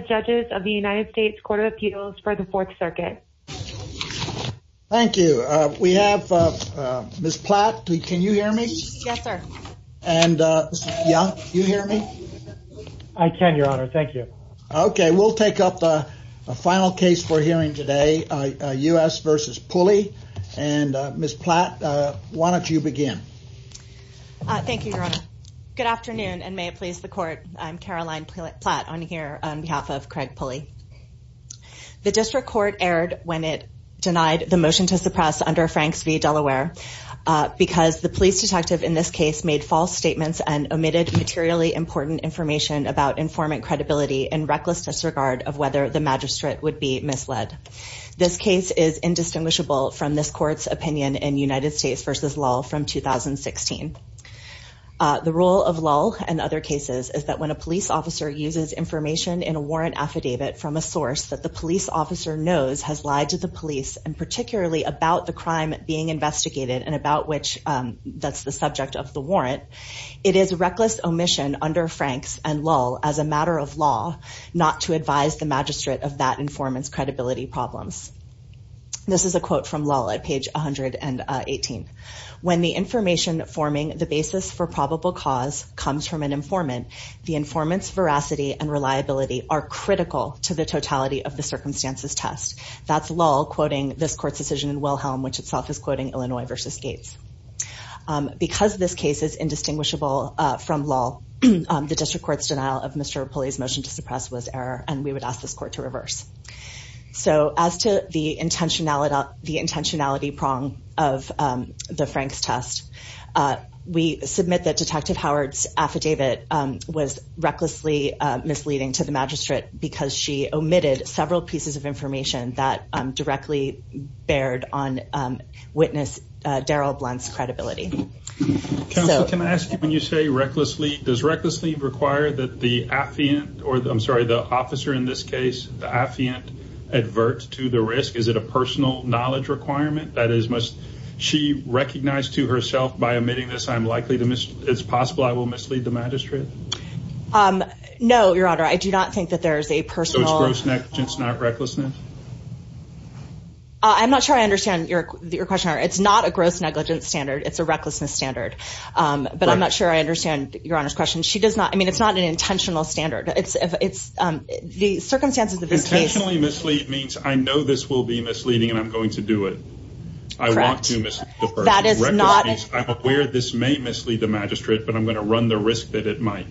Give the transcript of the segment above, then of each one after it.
Judges of the United States Court of Appeals for the Fourth Circuit. Thank you. We have Ms. Platt. Can you hear me? Yes, sir. And Ms. Young, can you hear me? I can, Your Honor. Thank you. Okay, we'll take up the final case we're hearing today, U.S. v. Pulley. And Ms. Platt, why don't you begin? Thank you, Your Honor. Good afternoon, and may it please the Court. I'm Caroline Platt on here on behalf of Craig Pulley. The District Court erred when it denied the motion to suppress under Franks v. Delaware because the police detective in this case made false statements and omitted materially important information about informant credibility in reckless disregard of whether the magistrate would be misled. This case is indistinguishable from this Court's opinion in United States v. Lull from 2016. The role of Lull and other cases is that when a police officer uses information in a warrant affidavit from a source that the police officer knows has lied to the police and particularly about the crime being investigated and about which that's the subject of the warrant, it is reckless omission under Franks and Lull as a matter of law not to advise the magistrate of that informant's credibility problems. This is a quote from Lull at page 118. When the information forming the basis for the informant's veracity and reliability are critical to the totality of the circumstances test. That's Lull quoting this Court's decision in Wilhelm, which itself is quoting Illinois v. Gates. Because this case is indistinguishable from Lull, the District Court's denial of Mr. Pulley's motion to suppress was error, and we would ask this Court to reverse. So as to the intentionality prong of the Franks test, we submit that Detective Howard's affidavit was recklessly misleading to the magistrate because she omitted several pieces of information that directly bared on witness Daryl Blunt's credibility. Counsel, can I ask you, when you say recklessly, does recklessly require that the affiant, or I'm sorry, the officer in this case, the affiant advert to the risk? Is it a personal knowledge requirement? That is, must she recognize to herself by omitting this, I'm likely to miss, it's possible I will mislead the magistrate? No, Your Honor, I do not think that there is a personal... So it's gross negligence, not recklessness? I'm not sure I understand your question. It's not a gross negligence standard. It's a recklessness standard. But I'm not sure I understand Your Honor's question. She does not, I mean, it's not an intentional standard. It's the circumstances of this case... Intentionally mislead means I know this will be misleading, and I'm going to do it. I want to mislead the person. Recklessness means I'm aware this may mislead the magistrate, but I'm going to run the risk that it might.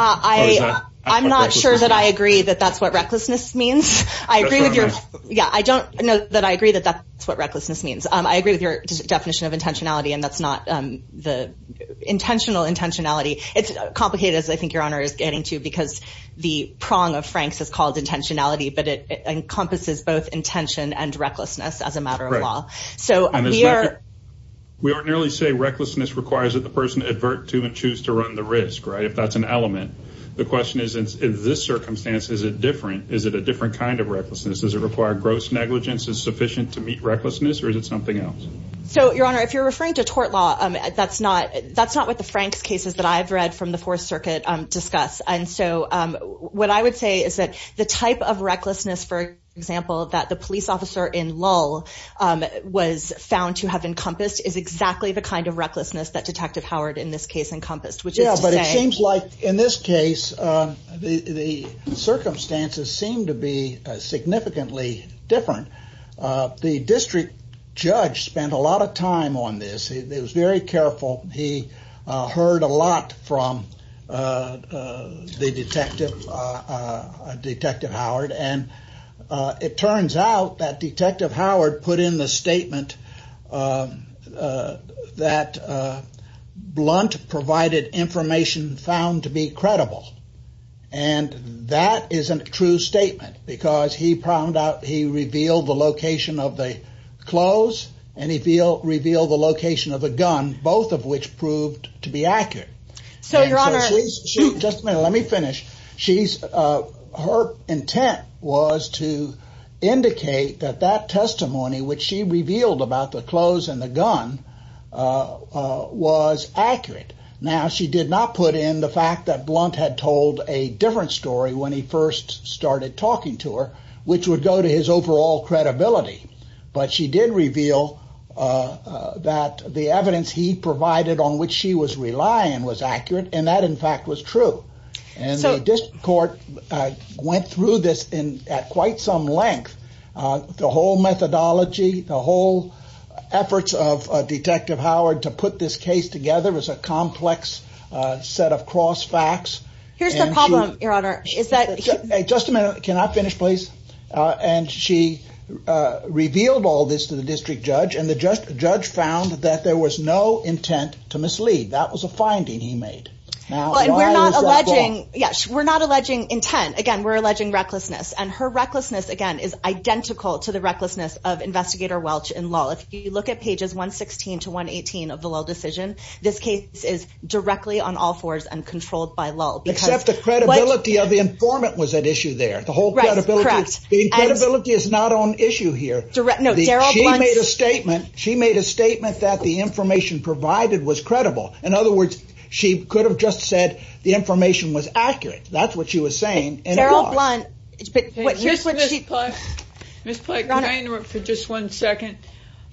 I'm not sure that I agree that that's what recklessness means. I agree with your, yeah, I don't know that I agree that that's what recklessness means. I agree with your definition of intentionality, and that's not the intentional intentionality. It's complicated, as I think Your Honor is getting to, because the prong of Frank's is called intentionality, but it is intention and recklessness as a matter of law. We ordinarily say recklessness requires that the person advert to and choose to run the risk, right, if that's an element. The question is, in this circumstance, is it different? Is it a different kind of recklessness? Does it require gross negligence is sufficient to meet recklessness, or is it something else? So Your Honor, if you're referring to tort law, that's not what the Frank's cases that I've read from the Fourth Circuit discuss. And so what I would say is that the type of recklessness that a police officer in Lull was found to have encompassed is exactly the kind of recklessness that Detective Howard in this case encompassed, which is to say Yeah, but it seems like in this case, the circumstances seem to be significantly different. The district judge spent a lot of time on this. He was very careful. He heard a lot from the detective, Detective Howard. And it turns out that Detective Howard put in the statement that Blunt provided information found to be credible. And that is a true statement, because he found out, he revealed the location of the clothes, and he revealed the location of the gun, both of which proved to be accurate. So Your Honor, just a minute, let me finish. She's her intent was to indicate that that testimony, which she revealed about the clothes and the gun was accurate. Now, she did not put in the fact that Blunt had told a different story when he first started talking to her, which would go to his overall credibility. But she did reveal that the evidence he provided on which she was relying was accurate. And that in fact, was true. And so this court went through this in at quite some length, the whole methodology, the whole efforts of Detective Howard to put this case together as a complex set of cross facts. Here's the problem, Your Honor, is that just a minute, can I finish, please? And she revealed all this to the district judge, and the judge found that there was no intent to mislead. That was a finding he made. We're not alleging intent. Again, we're alleging recklessness. And her recklessness, again, is identical to the recklessness of Investigator Welch in law. If you look at pages 116 to 118 of the law decision, this case is directly on all fours and controlled by law. Except the credibility of the informant was at issue there. The whole statement, she made a statement that the information provided was credible. In other words, she could have just said the information was accurate. That's what she was saying. Miss Plank, can I interrupt for just one second?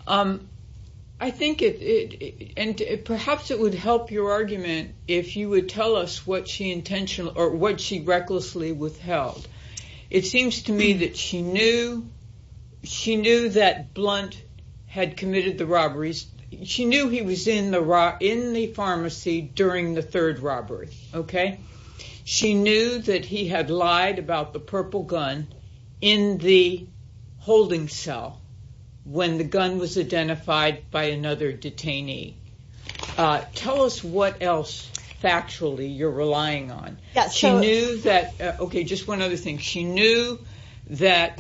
I think it, and perhaps it would help your argument if you would tell us what she intentionally or what she recklessly withheld. It seems to me that she knew that Blunt had committed the robberies. She knew he was in the pharmacy during the third robbery. She knew that he had lied about the purple gun in the holding cell when the gun was identified by another detainee. Tell us what else factually you're relying on. She knew that, that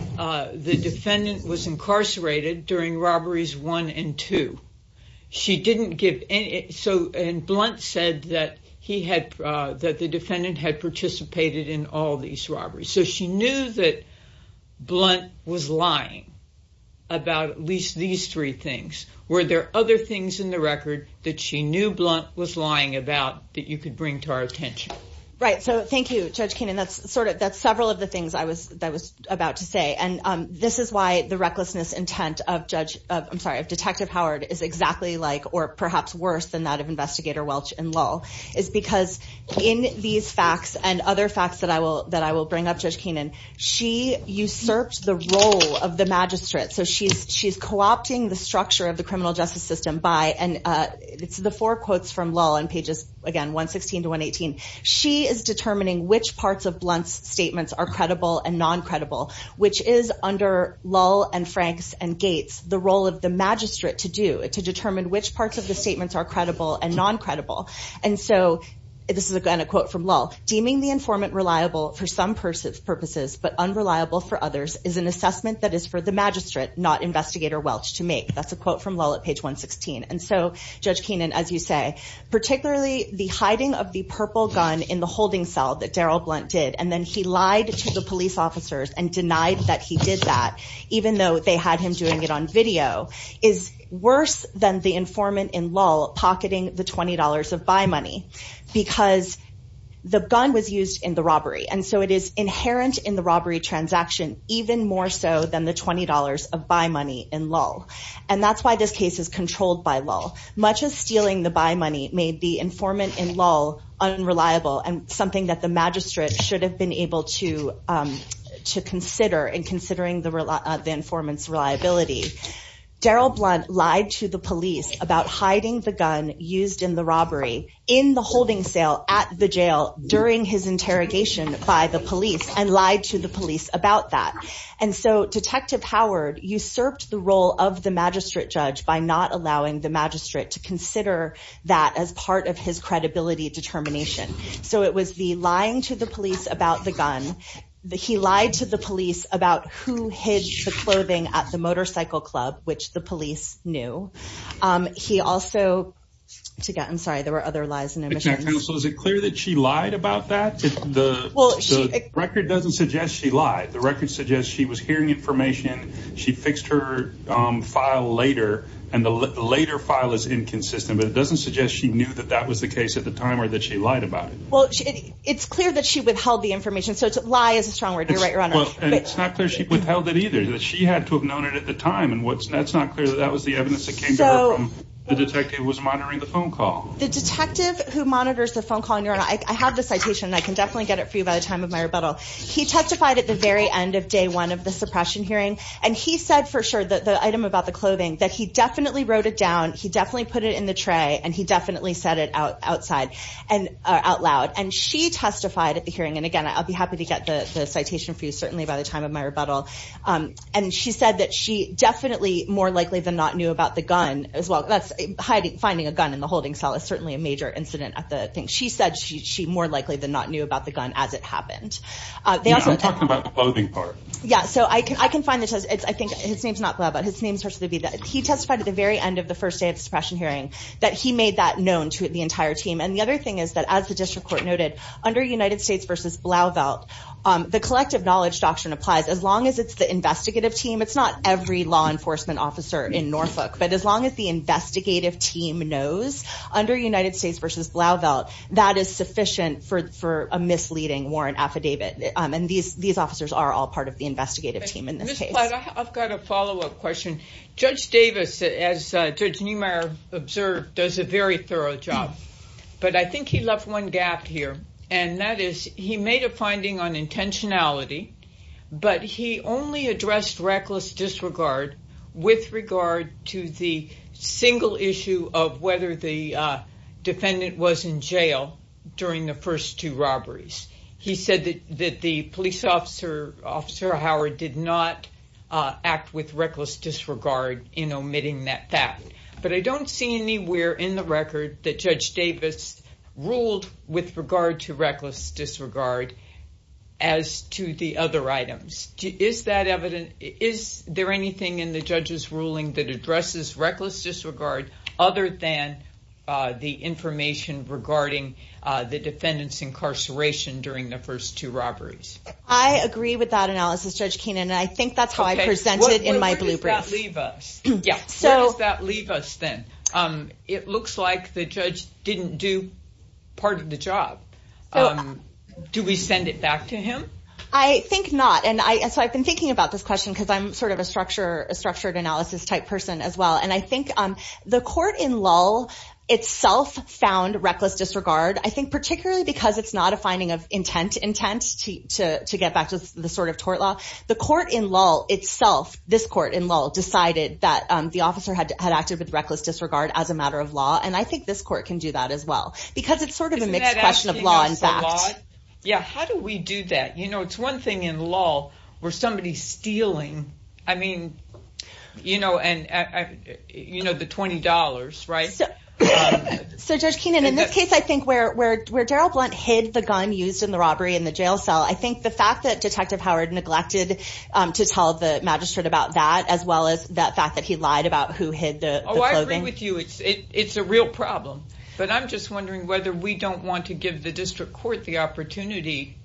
the defendant was incarcerated during robberies one and two. She didn't give any, so, and Blunt said that he had, that the defendant had participated in all these robberies. So, she knew that Blunt was lying about at least these three things. Were there other things in the record that she knew Blunt was lying about that you could bring to our attention? Right. So, thank you, Judge Keenan. That's sort of, that's several of the things I was, that I was about to say. And this is why the recklessness intent of Judge, I'm sorry, of Detective Howard is exactly like, or perhaps worse than that of Investigator Welch and Lull, is because in these facts and other facts that I will, that I will bring up, Judge Keenan, she usurped the role of the magistrate. So, she's, she's co-opting the structure of the criminal justice system by, and it's the four quotes from Lull in pages, again, 116 to 118. She is determining which parts of Blunt's statements are credible and non-credible, which is under Lull and Franks and Gates, the role of the magistrate to do, to determine which parts of the statements are credible and non-credible. And so, this is a quote from Lull, deeming the informant reliable for some purposes, but unreliable for others is an assessment that is for the magistrate, not Investigator Welch, to make. That's a quote from Lull at page 116. And so, Judge Keenan, as you say, particularly the hiding of the purple gun in the holding cell that Daryl Blunt did, and then he lied to the police officers and denied that he did that, even though they had him doing it on video, is worse than the informant in Lull pocketing the $20 of buy money, because the gun was used in the robbery. And so, it is inherent in the robbery transaction, even more so than the $20 of buy money in Lull. And that's why this case is controlled by Lull. Much of stealing the buy money made the informant in Lull unreliable and something that the magistrate should have been able to consider in considering the informant's reliability. Daryl Blunt lied to the police about hiding the gun used in the robbery in the holding cell at the jail during his interrogation by the police and lied to the police about that. And so, Detective Howard usurped the role of the magistrate judge by not allowing the magistrate to consider that as part of his credibility determination. So, it was the lying to the police about the gun. He lied to the police about who hid the clothing at the motorcycle club, which the police knew. He also, I'm sorry, there were lies and omissions. So, is it clear that she lied about that? The record doesn't suggest she lied. The record suggests she was hearing information. She fixed her file later and the later file is inconsistent, but it doesn't suggest she knew that that was the case at the time or that she lied about it. Well, it's clear that she withheld the information. So, lie is a strong word. You're right, Your Honor. And it's not clear she withheld it either, that she had to have known it at the time. And that's not clear that that was the evidence that came to her from the detective who was monitoring the phone call. The detective who monitors the phone call, Your Honor, I have the citation and I can definitely get it for you by the time of my rebuttal. He testified at the very end of day one of the suppression hearing and he said for sure that the item about the clothing that he definitely wrote it down. He definitely put it in the tray and he definitely said it out outside and out loud. And she testified at the hearing. And again, I'll be happy to get the citation for you certainly by the time of my rebuttal. And she said that she definitely more knew about the gun as well. That's hiding, finding a gun in the holding cell is certainly a major incident at the thing. She said she more likely than not knew about the gun as it happened. They also talked about the clothing part. Yeah. So, I can find the test. I think his name's not Blauvelt. His name's supposed to be that. He testified at the very end of the first day of suppression hearing that he made that known to the entire team. And the other thing is that as the district court noted under United States versus Blauvelt, the collective knowledge doctrine as long as it's the investigative team, it's not every law enforcement officer in Norfolk, but as long as the investigative team knows under United States versus Blauvelt, that is sufficient for a misleading warrant affidavit. And these officers are all part of the investigative team in this case. Ms. Platt, I've got a follow-up question. Judge Davis, as Judge Niemeyer observed, does a very thorough job. But I think he left one gap here and that is he made a finding on but he only addressed reckless disregard with regard to the single issue of whether the defendant was in jail during the first two robberies. He said that the police officer, Officer Howard, did not act with reckless disregard in omitting that fact. But I don't see anywhere in the record that Judge Davis ruled with regard to reckless disregard as to the other items. Is there anything in the judge's ruling that addresses reckless disregard other than the information regarding the defendant's incarceration during the first two robberies? I agree with that analysis, Judge Keenan, and I think that's how I present it in my blueprints. Okay. Where does that leave us? Yeah. Where does that leave us then? It looks like the judge didn't do part of the job. Do we send it back to him? I think not. And so I've been thinking about this question because I'm sort of a structured analysis type person as well. And I think the court in Lull itself found reckless disregard, I think particularly because it's not a finding of intent to get back to the sort of tort law. The court in Lull itself, this court in Lull, decided that the officer had acted with reckless disregard as a matter of law. And I think this court can do that as well because it's sort of a mixed question of law and fact. Yeah. How do we do that? It's one thing in Lull where somebody's stealing, I mean, the $20, right? So Judge Keenan, in this case, I think where Daryl Blunt hid the gun used in the robbery in the jail cell, I think the fact that Detective Howard neglected to tell the magistrate about that as well as that fact that he lied about who hid the clothing. Oh, I agree with you. It's a real problem. But I'm just wondering whether we don't want to give the district court the opportunity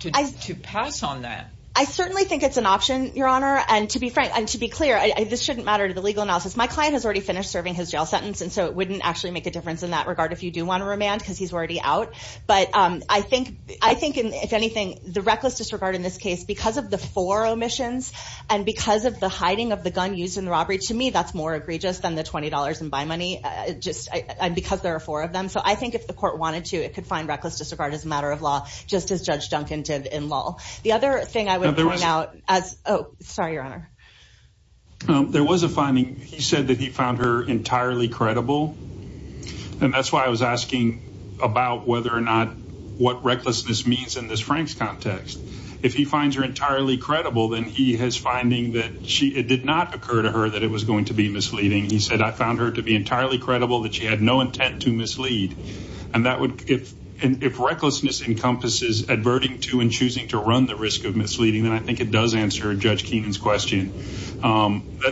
to pass on that. I certainly think it's an option, Your Honor. And to be clear, this shouldn't matter to the legal analysis. My client has already finished serving his jail sentence. And so it wouldn't actually make a difference in that regard if you do want to remand because he's already out. But I think, if anything, the reckless disregard in because of the four omissions and because of the hiding of the gun used in the robbery, to me, that's more egregious than the $20 in buy money just because there are four of them. So I think if the court wanted to, it could find reckless disregard as a matter of law, just as Judge Duncan did in Lull. The other thing I would point out as, oh, sorry, Your Honor. There was a finding. He said that he found her entirely credible. And that's why I was asking about whether or not what recklessness means in this Frank's context. If he finds her entirely credible, then he has finding that it did not occur to her that it was going to be misleading. He said, I found her to be entirely credible that she had no intent to mislead. And if recklessness encompasses adverting to and choosing to run the risk of misleading, then I think it does answer Judge Keenan's question,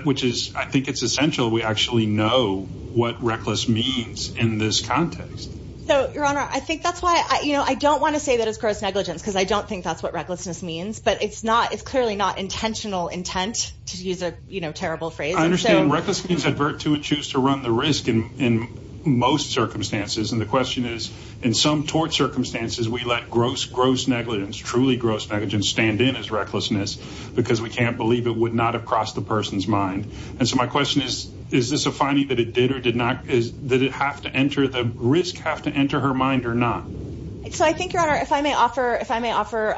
which is, I think it's essential we actually know what reckless means in this context. So, Your Honor, I think that's why I don't want to say that it's gross negligence because I don't think that's what recklessness means. But it's not it's clearly not intentional intent to use a terrible phrase. I understand reckless means advert to and choose to run the risk in most circumstances. And the question is, in some tort circumstances, we let gross, gross negligence, truly gross negligence stand in as recklessness because we can't believe it would not have crossed the person's mind. And so my question is, is this a finding that it did or did not? Did it have to enter the risk, have to enter her mind or not? So I think, Your Honor, if I may offer if I may offer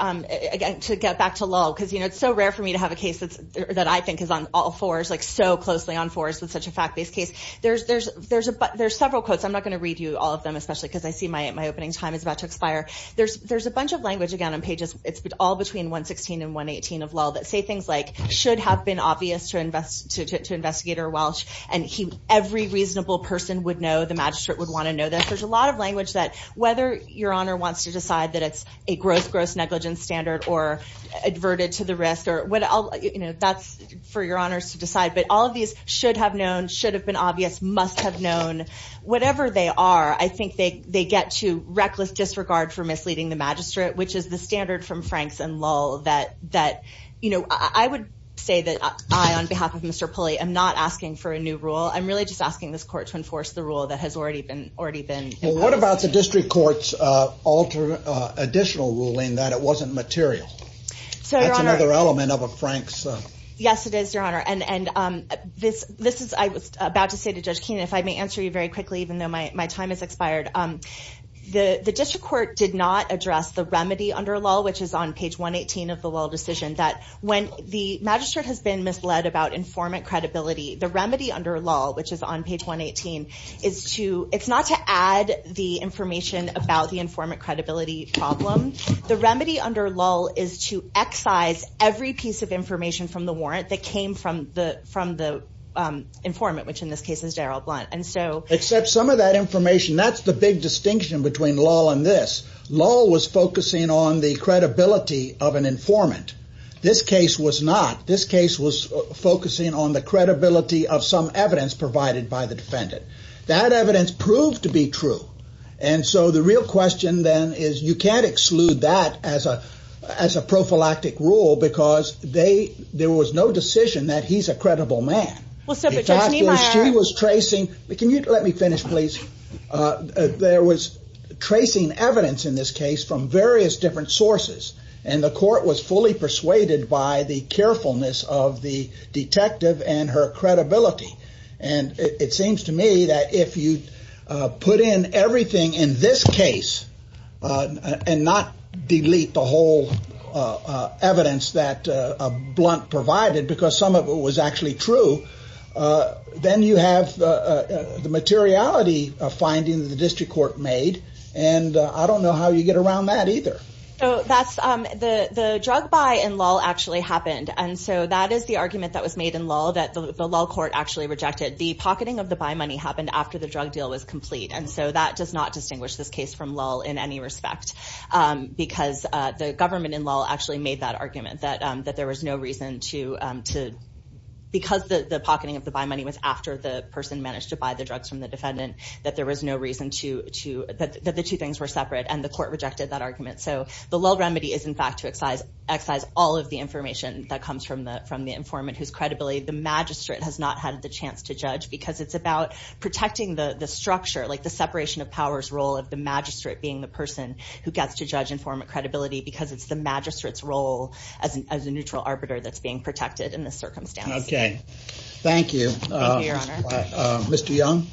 to get back to Lowell, because, you know, it's so rare for me to have a case that I think is on all fours, like so closely on fours with such a fact based case. There's several quotes. I'm not going to read you all of them, especially because I see my opening time is about to expire. There's a bunch of language, again, on pages. It's all between 116 and 118 of Lowell that say things like should have been obvious to invest or Welsh. And every reasonable person would know the magistrate would want to know that. There's a lot of language that whether Your Honor wants to decide that it's a gross, gross negligence standard or adverted to the risk or whatever, that's for Your Honors to decide. But all of these should have known, should have been obvious, must have known, whatever they are, I think they get to reckless disregard for misleading the magistrate, which is the standard from Franks and Lowell that, that, you know, I would say that I, on behalf of Mr. Pulley, I'm not asking for a new rule. I'm really just asking this court to enforce the rule that has already been already been. What about the district courts alter additional ruling that it wasn't material? So that's another element of a Franks. Yes, it is, Your Honor. And, and this, this is, I was about to say to Judge Keenan, if I may answer you very quickly, even though my time has expired, the district court did not address the remedy under lull, which is on page 118 of the lull decision, that when the magistrate has been misled about informant credibility, the remedy under lull, which is on page 118, is to, it's not to add the information about the informant credibility problem. The remedy under lull is to excise every piece of information from the warrant that came from the, from the informant, which in this case is Daryl Blunt. Except some of that information, that's the big distinction between lull and this. Lull was focusing on the credibility of an informant. This case was not, this case was focusing on the credibility of some evidence provided by the defendant. That evidence proved to be true. And so the real question then is you can't exclude that as a, as a prophylactic rule, because they, there was no decision that he's a credible man. She was tracing let me finish, please. There was tracing evidence in this case from various different sources, and the court was fully persuaded by the carefulness of the detective and her credibility. And it seems to me that if you put in everything in this case and not delete the whole evidence that Blunt provided, because some of it was actually true, then you have the materiality of findings the district court made. And I don't know how you get around that either. So that's the, the drug buy in lull actually happened. And so that is the argument that was made in lull that the lull court actually rejected. The pocketing of the buy money happened after the drug deal was complete. And so that does not distinguish this case from lull in any respect. Because the government in lull actually made that argument, that, that there was no reason to, to, because the, the pocketing of the buy money was after the person managed to buy the drugs from the defendant, that there was no reason to, to, that the two things were separate and the court rejected that argument. So the lull remedy is in fact to excise, excise all of the information that comes from the, from the informant whose credibility the magistrate has not had the chance to judge, because it's about protecting the, the structure, like the separation of powers role of the magistrate being the person who gets to judge informant credibility because it's the magistrate's role as a neutral arbiter that's being protected in this circumstance. Okay. Thank you. Mr. Young.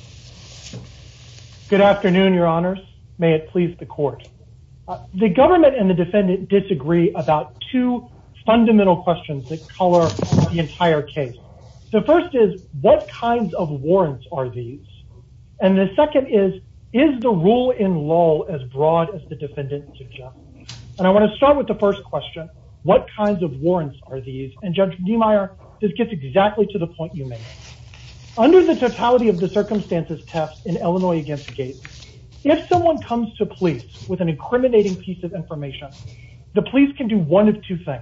Good afternoon, your honors. May it please the court. The government and the defendant disagree about two fundamental questions that color the entire case. The first is what kinds of warrants are these? And the second is, is the rule in lull as broad as the defendant suggests. And I want to start with the first question, what kinds of warrants are these? And judge Niemeyer, this gets exactly to the point you made under the totality of the circumstances test in Illinois against the gate. If someone comes to police with an incriminating piece of information, the police can do one of two things.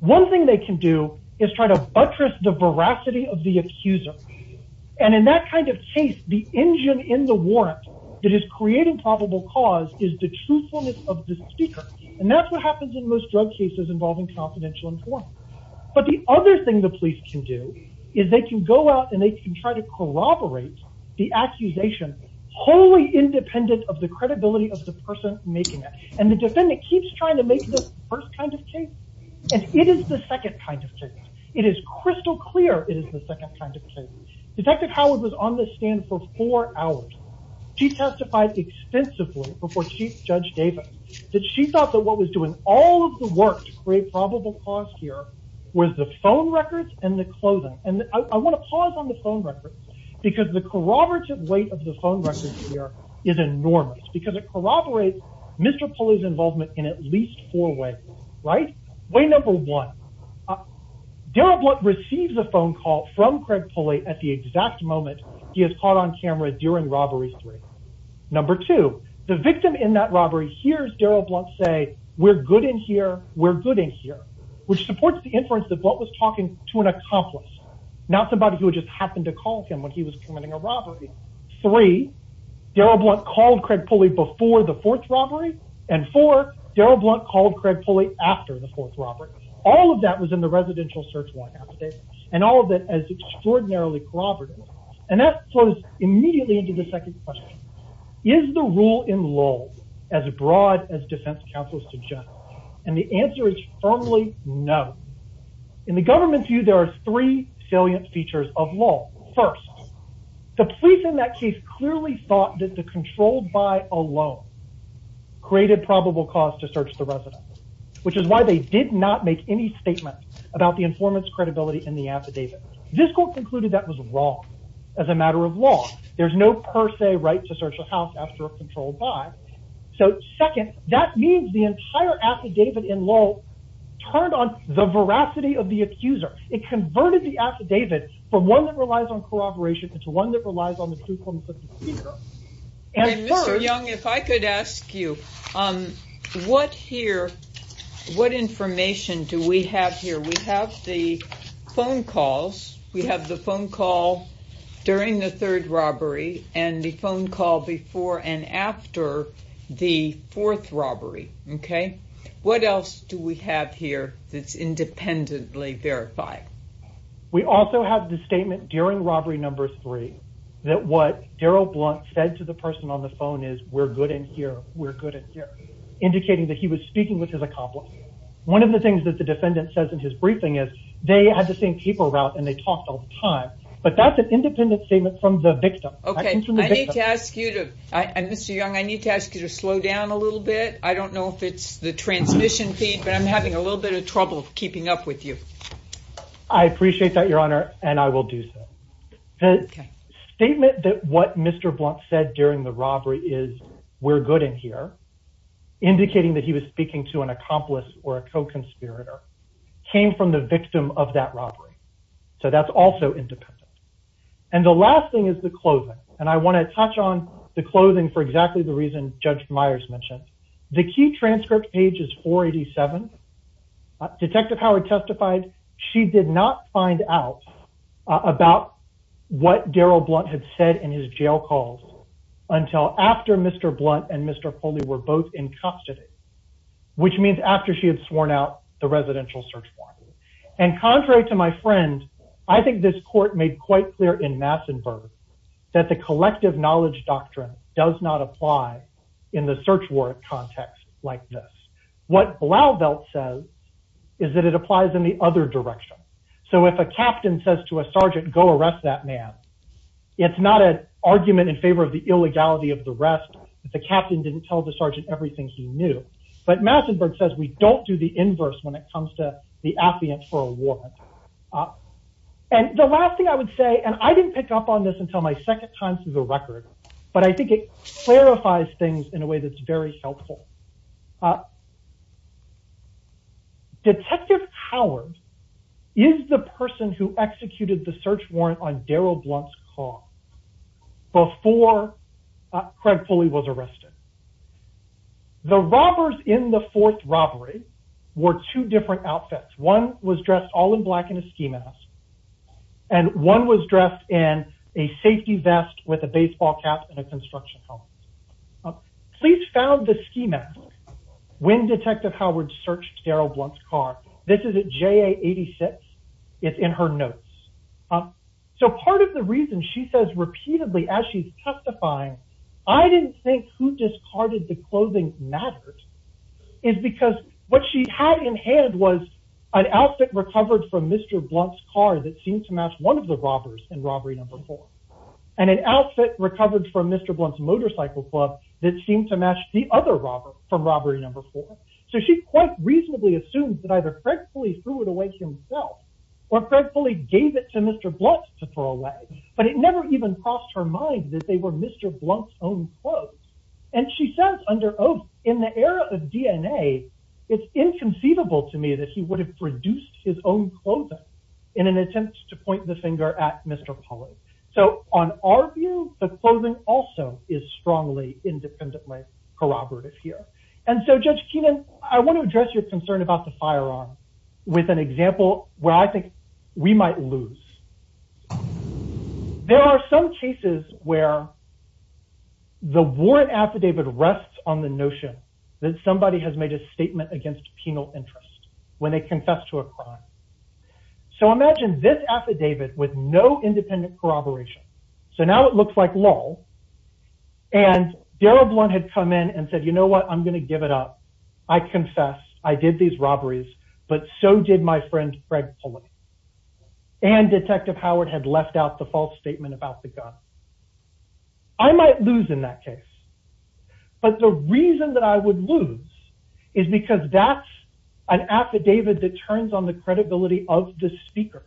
One thing they can do is try to buttress the veracity of the accuser. And in that kind of case, the engine in the warrant that is creating probable cause is the truthfulness of the speaker. And that's what happens in most drug cases involving confidential informant. But the other thing the police can do is they can go out and they can try to corroborate the accusation wholly independent of the credibility of the person making it. And the defendant keeps trying to make this first kind of case. And it is the second kind of case. It is crystal clear. It is the second kind of case. Detective Howard was on the stand for four hours. She testified extensively before Chief Judge Davis that she thought that what was doing all of the work to create probable cause here was the phone records and the clothing. And I want to pause on the phone records, because the corroborative weight of the phone records here is enormous, because it corroborates Mr. Pulley's involvement in at least four ways, right? Way number one, Darrell Blunt receives a phone call from Craig Pulley at the exact moment he is caught on camera during robbery three. Number two, the victim in that robbery hears Darrell Blunt say, we're good in here, we're good in here, which supports the inference that Blunt was talking to an accomplice, not somebody who just happened to call him when he was committing a robbery. Three, Darrell Blunt called Craig Pulley before the fourth robbery. And four, Darrell Blunt called Craig Pulley after the fourth robbery. All of that was in the residential search warrant and all of it as extraordinarily corroborative. And that flows immediately into the second question. Is the rule in lull as broad as defense counsels suggest? And the answer is firmly no. In the government's view, there are three salient features of lull. First, the police in that case clearly thought that the controlled by alone created probable cause to search the residence. Which is why they did not make any statement about the informant's credibility in the affidavit. This court concluded that was wrong as a matter of law. There's no per se right to search a house after a controlled by. So second, that means the entire affidavit in lull turned on the veracity of the accuser. It converted the affidavit from one that relies on corroboration into one that I could ask you, what here, what information do we have here? We have the phone calls. We have the phone call during the third robbery and the phone call before and after the fourth robbery. Okay. What else do we have here that's independently verified? We also have the statement during we're good in here. Indicating that he was speaking with his accomplice. One of the things that the defendant says in his briefing is they had the same paper route and they talked all the time. But that's an independent statement from the victim. Okay. I need to ask you to, Mr. Young, I need to ask you to slow down a little bit. I don't know if it's the transmission feed, but I'm having a little bit of trouble keeping up with you. I appreciate that, Your Honor, and I will do so. The statement that what Mr. Blunt said during the robbery is we're good in here. Indicating that he was speaking to an accomplice or a co-conspirator came from the victim of that robbery. So that's also independent. And the last thing is the clothing. And I want to touch on the clothing for exactly the reason Judge Myers mentioned. The key transcript page is 487. Detective Howard testified she did not find out about what Darrell Blunt had said in his jail calls until after Mr. Blunt and Mr. Foley were both in custody, which means after she had sworn out the residential search warrant. And contrary to my friend, I think this court made quite clear in Massenburg that the collective knowledge doctrine does not apply in the search warrant context like this. What Blauvelt says is that it applies in the other direction. So if a captain says to a sergeant, go arrest that man, it's not an argument in favor of the illegality of the rest if the captain didn't tell the sergeant everything he knew. But Massenburg says we don't do the inverse when it comes to the affidavit for a warrant. And the last thing I would say, and I didn't pick up on this until my second time the record, but I think it clarifies things in a way that's very helpful. Detective Howard is the person who executed the search warrant on Darrell Blunt's call before Craig Foley was arrested. The robbers in the fourth robbery wore two different outfits. One was dressed all in black in a ski mask, and one was dressed in a safety vest with a baseball cap and a construction helmet. Police found the ski mask when Detective Howard searched Darrell Blunt's car. This is a JA-86. It's in her notes. So part of the reason she says repeatedly as she's testifying, I didn't think who discarded the clothing mattered is because what she had in hand was an outfit recovered from Mr. Blunt's car that seemed to match one of the robbers in robbery number four. And an outfit recovered from Mr. Blunt's motorcycle club that seemed to match the other robber from robbery number four. So she quite reasonably assumes that either Craig Foley threw it away himself or Craig Foley gave it to Mr. Blunt to throw away. But it never even crossed her mind that they were Mr. Blunt's own clothes. And she says under oath, in the era of DNA, it's inconceivable to me that he would have produced his own clothing in an attempt to point the finger at Mr. Foley. So on our view, the clothing also is strongly independently corroborative here. And so Judge Keenan, I want to address your concern about the firearm with an example where I think we might lose. There are some cases where the warrant affidavit rests on the notion that somebody has made a statement against penal interest when they confess to a crime. So imagine this affidavit with no independent corroboration. So now it looks like lull. And Daryl Blunt had come in and said, you know what, I'm going to give it up. I confess. I did these robberies. But so did my friend Craig Foley. And Detective Howard had left out the false statement about the gun. I might lose in that case. But the reason that I would lose is because that's an affidavit that turns on the credibility of the speaker.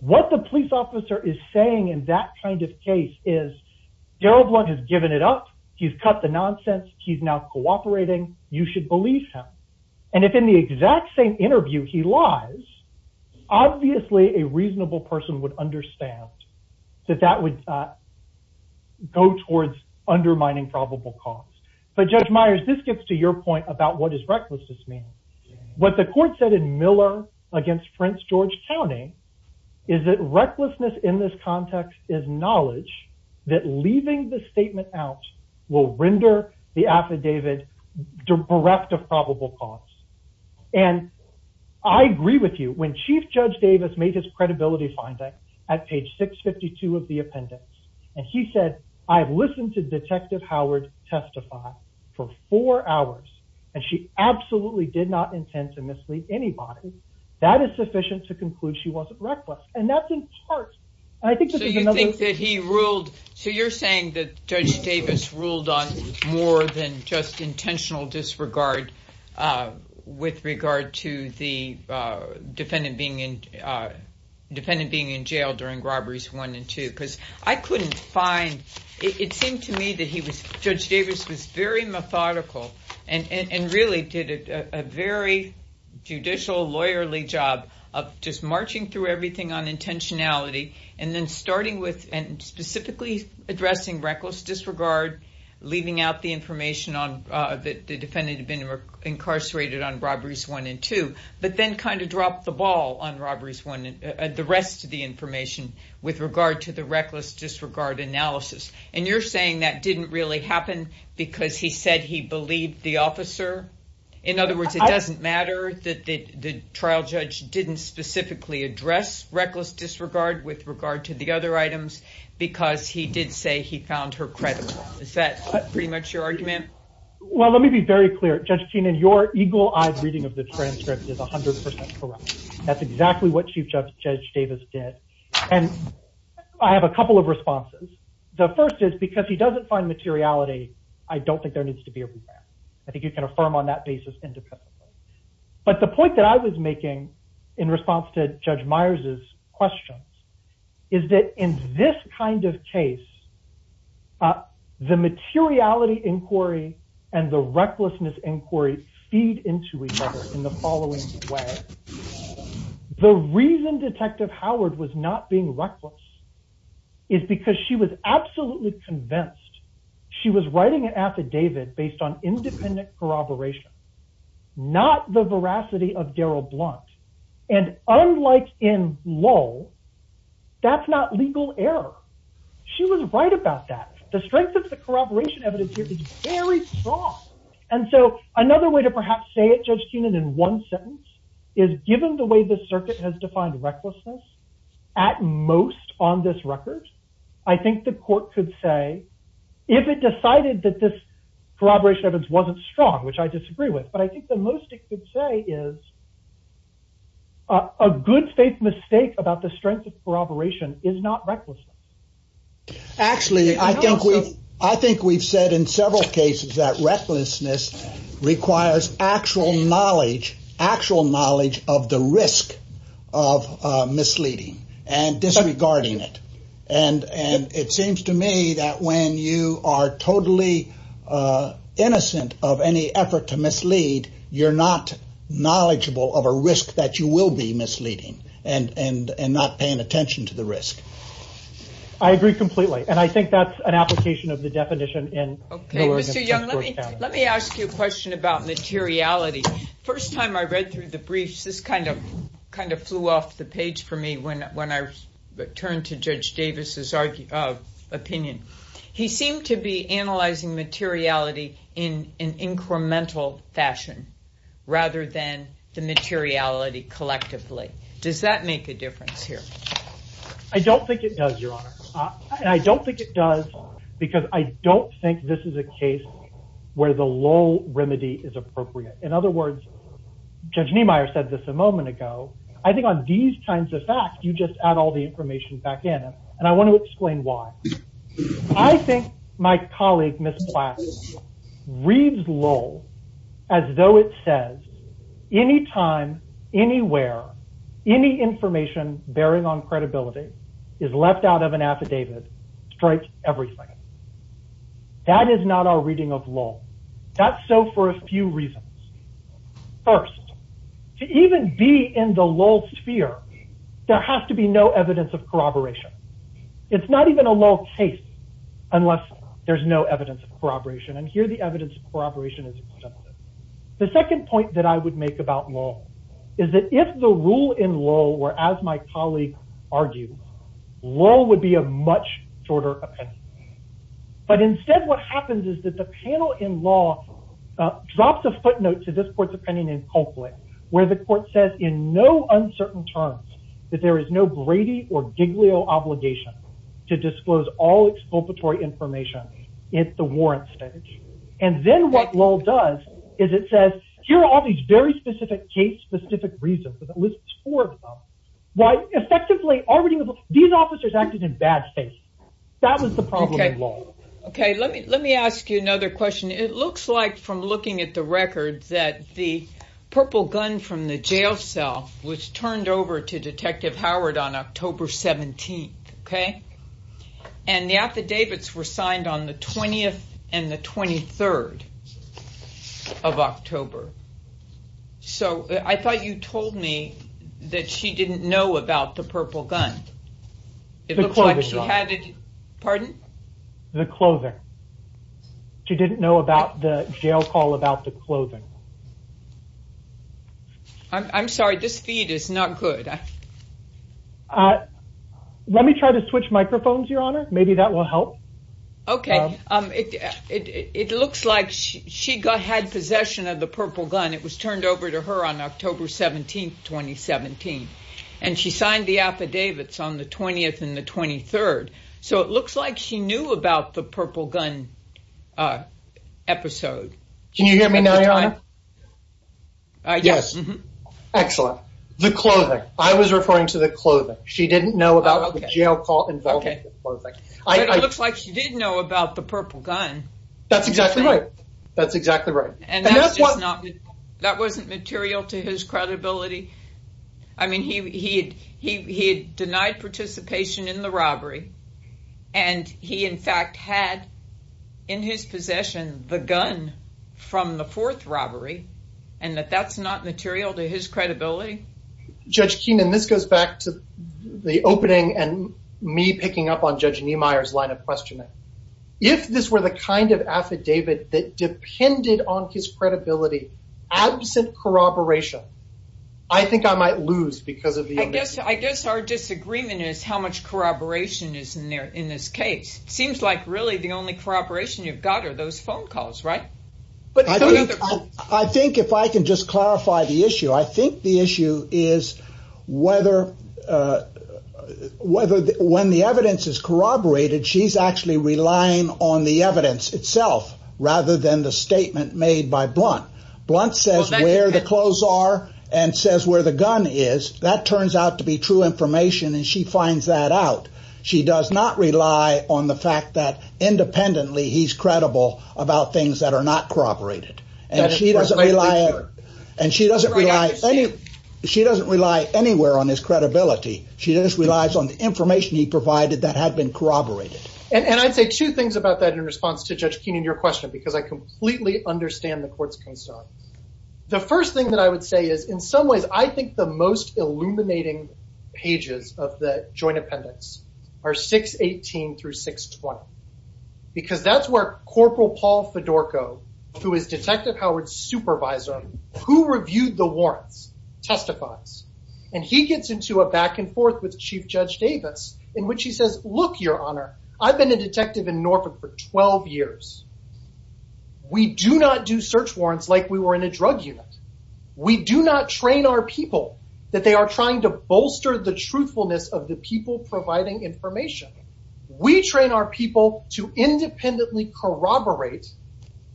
What the police officer is saying in that kind of case is Daryl Blunt has given it up. He's cut the nonsense. He's now cooperating. You should believe him. And if in the exact same interview he lies, obviously a reasonable person would understand that that would go towards undermining probable cause. But Judge Myers, this gets to your point about what does recklessness mean. What the court said in Miller against Prince George County is that recklessness in this context is knowledge that leaving the statement out will render the affidavit bereft of probable cause. And I agree with you. When Chief Judge Davis made his credibility finding at page 652 of the appendix, and he said, I've listened to Detective Howard testify for four hours, and she absolutely did not intend to mislead anybody, that is sufficient to conclude she wasn't reckless. And that's in part. I think that he ruled. So you're saying that Judge Davis ruled on more than just intentional disregard with regard to the defendant being in jail during robberies one and two. Because I couldn't find, it seemed to me that Judge Davis was very methodical and really did a very judicial lawyerly job of just marching through everything on intentionality and then starting with and specifically addressing reckless disregard, leaving out the information on that the defendant had been incarcerated on robberies one and two, but then kind of dropped the ball on robberies one and the rest of the information with regard to the reckless disregard analysis. And you're saying that didn't really happen because he said he believed the officer. In other words, it doesn't matter that the trial judge didn't specifically address reckless disregard with regard to the other items because he did say he found her credible. Is that pretty much your argument? Well, let me be very clear. Judge Keenan, your eagle-eyed reading of the transcript is 100% correct. That's exactly what Chief Judge Davis did. And I have a couple of responses. The first is because he doesn't find materiality, I don't think there needs to be a rebound. I think you can affirm on that basis independently. But the point that I was making in response to Judge Myers' questions is that in this kind of case, the materiality inquiry and the recklessness inquiry feed into each other in the following way. The reason Detective Howard was not being reckless is because she was absolutely convinced she was writing an affidavit based on independent corroboration, not the veracity of Daryl Blunt. And unlike in Lowell, that's not legal error. She was right about that. The strength of the corroboration evidence here is very strong. And so another way to perhaps say it, Judge Keenan, in one sentence is given the way the circuit has if it decided that this corroboration evidence wasn't strong, which I disagree with. But I think the most it could say is a good faith mistake about the strength of corroboration is not recklessness. Actually, I think we've said in several cases that recklessness requires actual knowledge, actual knowledge of the risk of misleading and disregarding it. And it seems to me that when you are totally innocent of any effort to mislead, you're not knowledgeable of a risk that you will be misleading and not paying attention to the risk. I agree completely. And I think that's an application of the definition. Okay, Mr. Young, let me ask you a question about materiality. First time I read through the briefs, this kind of flew off the page for me when I turned to Judge Davis's opinion. He seemed to be analyzing materiality in an incremental fashion rather than the materiality collectively. Does that make a difference here? I don't think it does, Your Honor. And I don't think it does because I don't think this is a case where the low remedy is appropriate. In other words, Judge Niemeyer said this a moment ago. I think on these kinds of facts, you just add all the information back in. And I want to explain why. I think my colleague, Ms. Platt, reads lull as though it says anytime, anywhere, any information bearing on credibility is left out of an affidavit, strikes everything. That is not our reading of lull. That's so for a few reasons. First, to even be in the lull sphere, there has to be no evidence of corroboration. It's not even a lull case unless there's no evidence of corroboration. And here the evidence of corroboration is extensive. The second point that I would make about lull is that if the rule in lull were as my colleague argues, lull would be a much shorter opinion. But instead what happens is that the panel in lull drops a footnote to this court's opinion in Copley where the court says in no uncertain terms that there is no Brady or Giglio obligation to disclose all expulpatory information at the warrant stage. And then what lull does is it says here are all these very specific cases, specific reasons, but it lists four of them. These officers acted in bad faith. That was the problem in lull. Okay, let me let me ask you another question. It looks like from looking at the records that the purple gun from the jail cell was turned over to Detective Howard on October 17th. Okay. And the affidavits were signed on the 20th and the 23rd of October. So I thought you told me that she didn't know about the purple gun. It looks like she had it. Pardon? The clothing. She didn't know about the jail call about the clothing. I'm sorry, this feed is not good. Let me try to switch microphones, Your Honor. Maybe that will help. Okay. It looks like she had possession of the purple gun. It was turned over to Detective Howard on October 17th and the 23rd. So it looks like she knew about the purple gun episode. Can you hear me now, Your Honor? Yes. Excellent. The clothing. I was referring to the clothing. She didn't know about the jail call involving the clothing. It looks like she did know about the purple gun. That's exactly right. That's exactly right. And that wasn't material to his credibility? I mean, he had denied participation in the robbery, and he in fact had in his possession the gun from the fourth robbery, and that that's not material to his credibility? Judge Keenan, this goes back to the opening and me picking up on Judge Niemeyer's line of questioning. If this were the kind of affidavit that depended on his corroboration, I think I might lose because of the evidence. I guess our disagreement is how much corroboration is in there in this case. It seems like really the only corroboration you've got are those phone calls, right? But I think if I can just clarify the issue, I think the issue is whether when the evidence is corroborated, she's actually relying on the evidence itself rather than the statement made by Blunt. Blunt says where the clothes are and says where the gun is. That turns out to be true information, and she finds that out. She does not rely on the fact that independently he's credible about things that are not corroborated. She doesn't rely anywhere on his credibility. She just relies on the information he provided that had been corroborated. And I'd say two things about that in response to Judge Keenan. I completely understand the court's concern. The first thing that I would say is in some ways, I think the most illuminating pages of the joint appendix are 618 through 620, because that's where Corporal Paul Fedorko, who is Detective Howard's supervisor, who reviewed the warrants, testifies. And he gets into a back and forth with Chief Judge Davis in which he says, look, Your Honor, I've been a detective in Norfolk for 12 years. We do not do search warrants like we were in a drug unit. We do not train our people that they are trying to bolster the truthfulness of the people providing information. We train our people to independently corroborate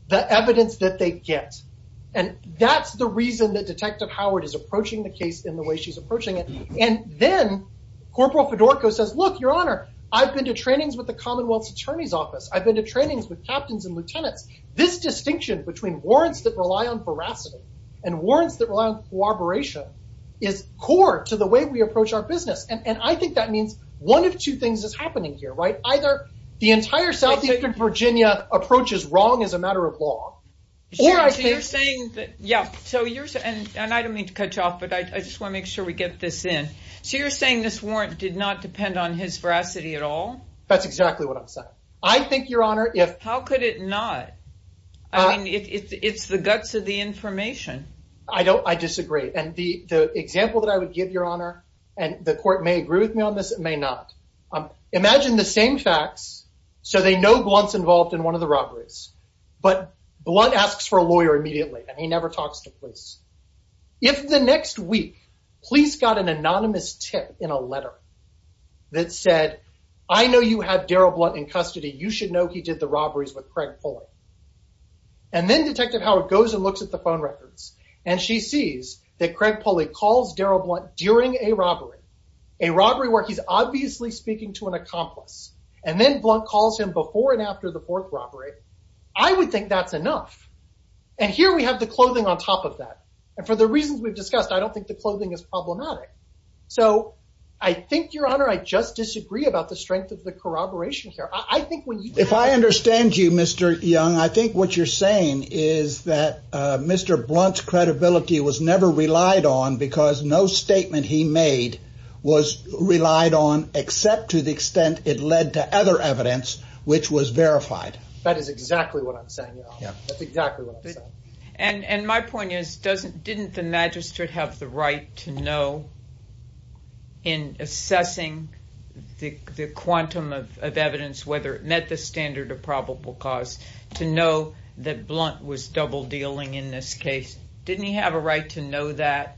the evidence that they get. And that's the reason that Detective Fedorko says, look, Your Honor, I've been to trainings with the Commonwealth's Attorney's Office. I've been to trainings with captains and lieutenants. This distinction between warrants that rely on veracity and warrants that rely on corroboration is core to the way we approach our business. And I think that means one of two things is happening here, right? Either the entire Southeastern Virginia approaches wrong as a matter of law, or I think... So you're saying that, yeah, so you're saying, and I don't mean to cut you off, but I just want to make sure we get this in. So you're saying this warrant did not depend on his veracity at all? That's exactly what I'm saying. I think, Your Honor, if... How could it not? I mean, it's the guts of the information. I disagree. And the example that I would give, Your Honor, and the court may agree with me on this, it may not. Imagine the same facts, so they know Blunt's involved in one of the robberies, but Blunt asks for a lawyer immediately, and he never talks to police. If the next week, police got an anonymous tip in a letter that said, I know you had Daryl Blunt in custody. You should know he did the robberies with Craig Pulley. And then Detective Howard goes and looks at the phone records, and she sees that Craig Pulley calls Daryl Blunt during a robbery, a robbery where he's obviously speaking to an accomplice, and then Blunt calls him before and after the fourth robbery. I would think that's enough. And here we have the clothing on top of that. And for the reasons we've discussed, I don't think the clothing is problematic. So I think, Your Honor, I just disagree about the strength of the corroboration here. I think when... If I understand you, Mr. Young, I think what you're saying is that Mr. Blunt's credibility was never relied on because no statement he made was relied on except to the extent it led to other evidence which was verified. That is exactly what I'm saying, Your Honor. That's exactly what I'm saying. And my point is, didn't the magistrate have the right to know in assessing the quantum of evidence, whether it met the standard of probable cause, to know that Blunt was double dealing in this case? Didn't he have a right to know that?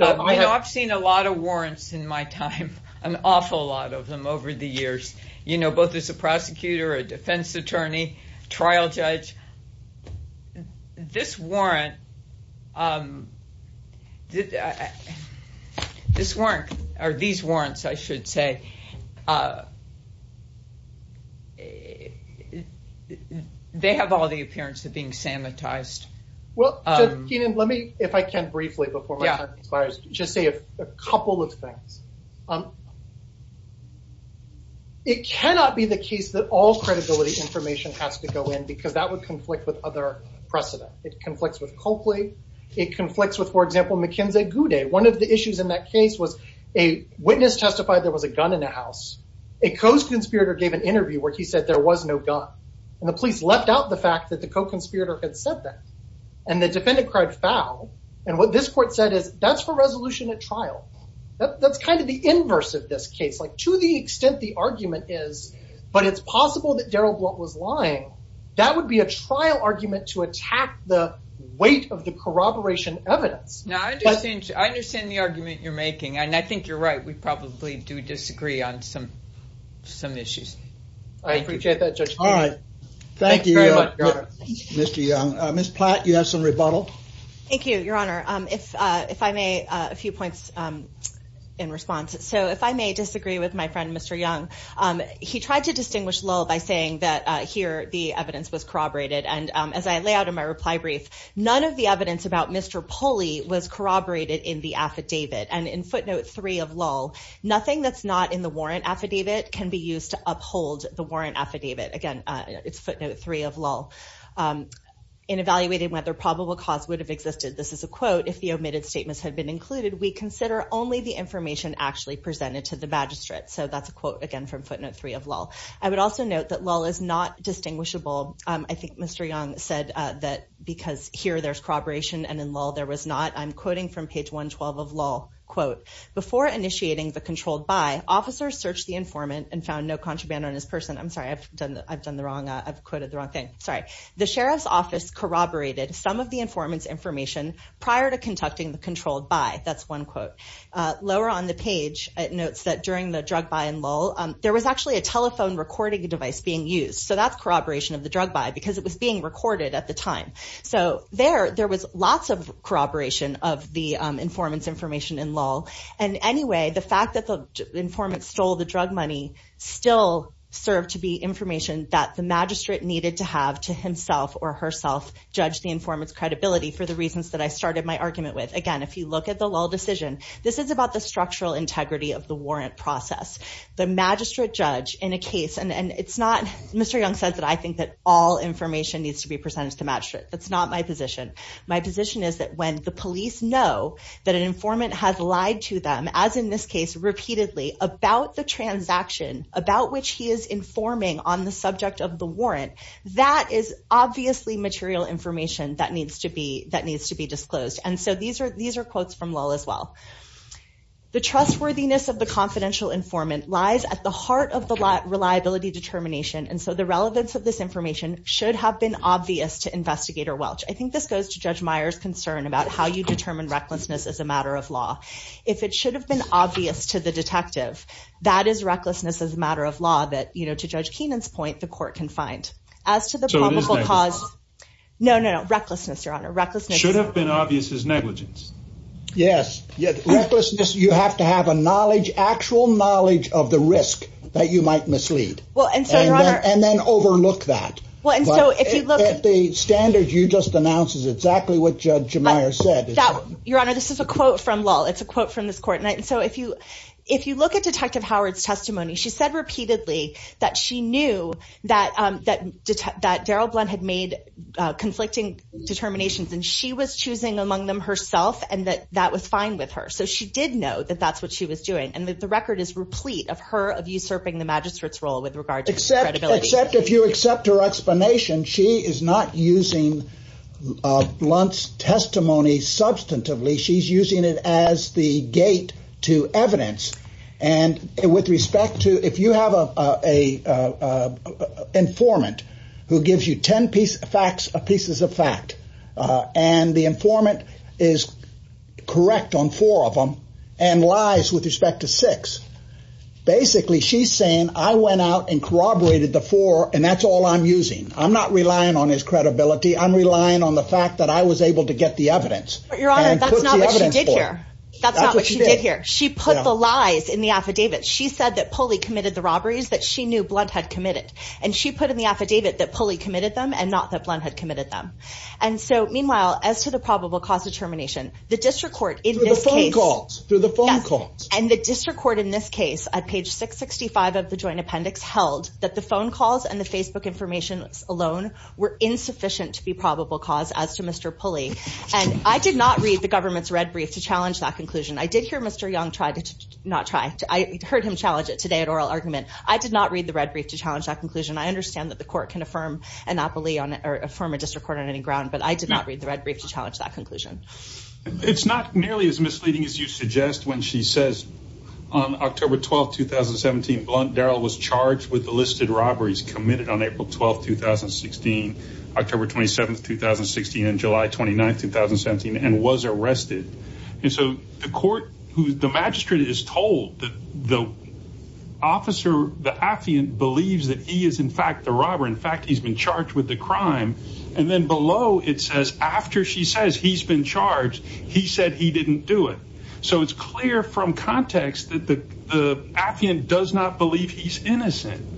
I've seen a lot of warrants in my time, an awful lot of them over the years, you know, both as a prosecutor, a defense attorney, trial judge. This warrant, or these warrants, I should say, they have all the appearance of being sanitized. Well, Kenan, let me, if I can briefly before my a couple of things. It cannot be the case that all credibility information has to go in because that would conflict with other precedent. It conflicts with Coakley. It conflicts with, for example, McKenzie-Goudé. One of the issues in that case was a witness testified there was a gun in the house. A co-conspirator gave an interview where he said there was no gun. And the police left out the fact that the co-conspirator had said that. And the defendant cried foul. And what this is, is a resolution at trial. That's kind of the inverse of this case. To the extent the argument is, but it's possible that Darrell Blunt was lying, that would be a trial argument to attack the weight of the corroboration evidence. Now, I understand the argument you're making, and I think you're right. We probably do disagree on some issues. I appreciate that, Judge. All right. Thank you, Mr. Young. Ms. Platt, you have some rebuttal? Thank you, Your Honor. If I may, a few points in response. So if I may disagree with my friend, Mr. Young. He tried to distinguish lull by saying that here the evidence was corroborated. And as I lay out in my reply brief, none of the evidence about Mr. Pulley was corroborated in the affidavit. And in footnote three of lull, nothing that's not in the warrant affidavit can be used to uphold the warrant affidavit. Again, it's footnote three of lull. In evaluating whether probable cause would have existed, this is a quote, if the omitted statements had been included, we consider only the information actually presented to the magistrate. So that's a quote, again, from footnote three of lull. I would also note that lull is not distinguishable. I think Mr. Young said that because here there's corroboration and in lull there was not. I'm quoting from page 112 of lull. Quote, before initiating the controlled by, officers searched the informant and found no contraband on his person. I'm sorry, I've done the wrong, I've corroborated some of the informant's information prior to conducting the controlled by. That's one quote. Lower on the page, it notes that during the drug buy in lull, there was actually a telephone recording device being used. So that's corroboration of the drug buy because it was being recorded at the time. So there, there was lots of corroboration of the informant's information in lull. And anyway, the fact that the informant stole the drug money still served to be information that the magistrate needed to have to himself or herself judge the informant's credibility for the reasons that I started my argument with. Again, if you look at the lull decision, this is about the structural integrity of the warrant process. The magistrate judge in a case, and it's not, Mr. Young said that I think that all information needs to be presented to the magistrate. That's not my position. My position is that when the police know that an informant has informing on the subject of the warrant, that is obviously material information that needs to be, that needs to be disclosed. And so these are, these are quotes from lull as well. The trustworthiness of the confidential informant lies at the heart of the reliability determination, and so the relevance of this information should have been obvious to Investigator Welch. I think this goes to Judge Meyer's concern about how you determine recklessness as a matter of law. If it should have been obvious to the detective, that is recklessness as a matter of law that, you know, to judge Kenan's point, the court can find as to the probable cause. No, no, no recklessness, your honor. Recklessness should have been obvious as negligence. Yes. Yes. You have to have a knowledge, actual knowledge of the risk that you might mislead and then overlook that. Well, and so if you look at the standards, you just announced exactly what Judge Meyer said. Your honor, this is a quote from lull. It's a quote from this court. And so if you, if you look at Detective Howard's testimony, she said repeatedly that she knew that, that, that Daryl Blunt had made conflicting determinations and she was choosing among them herself and that that was fine with her. So she did know that that's what she was doing. And the record is replete of her, of usurping the magistrate's role with regard to credibility. Except if you accept her explanation, she is not using Blunt's testimony substantively. She's using as the gate to evidence. And with respect to, if you have a, a informant who gives you 10 piece facts, pieces of fact, uh, and the informant is correct on four of them and lies with respect to six, basically she's saying, I went out and corroborated the four and that's all I'm using. I'm not relying on his credibility. I'm relying on the fact that I was able to get the evidence. Your Honor, that's not what she did here. That's not what she did here. She put the lies in the affidavit. She said that Pulley committed the robberies that she knew Blunt had committed. And she put in the affidavit that Pulley committed them and not that Blunt had committed them. And so meanwhile, as to the probable cause determination, the district court in this case, and the district court in this case at page 665 of the joint appendix held that the phone calls and the Facebook information alone were insufficient to be probable cause as to Mr. And I did not read the government's red brief to challenge that conclusion. I did hear Mr. Young tried to not try to, I heard him challenge it today at oral argument. I did not read the red brief to challenge that conclusion. I understand that the court can affirm anopoly on or affirm a district court on any ground, but I did not read the red brief to challenge that conclusion. It's not nearly as misleading as you suggest when she says on October 12th, 2017, Blunt Darrell was and was arrested. And so the court who the magistrate is told that the officer, the affiant believes that he is in fact the robber. In fact, he's been charged with the crime. And then below it says, after she says he's been charged, he said he didn't do it. So it's clear from context that the affiant does not believe he's innocent.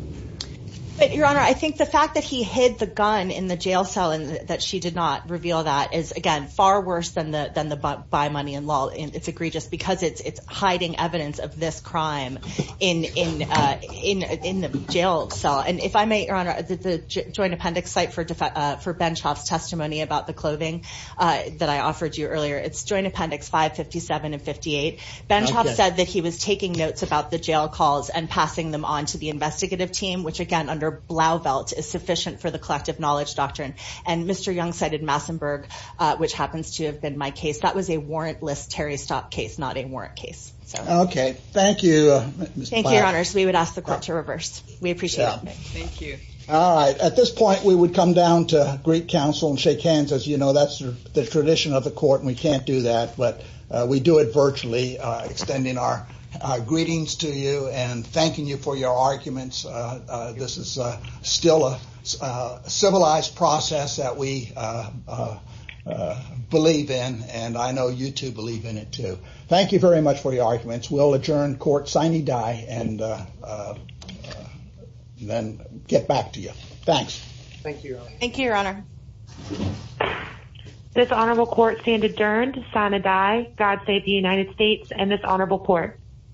But your honor, I think the fact that he hid the in the jail cell and that she did not reveal that is again, far worse than the, than the buy money in law. And it's egregious because it's, it's hiding evidence of this crime in, in, uh, in, in the jail cell. And if I may, your honor, the joint appendix site for, uh, for Benchoff's testimony about the clothing, uh, that I offered you earlier, it's joint appendix five 57 and 58. Benchoff said that he was taking notes about the jail calls and passing them on to the and Mr. Young cited Massenburg, uh, which happens to have been my case. That was a warrantless Terry stop case, not a warrant case. So, okay. Thank you. Thank you, your honors. We would ask the court to reverse. We appreciate it. Thank you. All right. At this point we would come down to Greek council and shake hands. As you know, that's the tradition of the court and we can't do that, but we do it virtually, uh, extending our greetings to you and thanking you for your process that we, uh, uh, uh, believe in. And I know you too believe in it too. Thank you very much for the arguments. We'll adjourn court signing die and, uh, uh, then get back to you. Thanks. Thank you. Thank you, your honor. This honorable court stand adjourned to sign a die. God save the United States and this honorable court.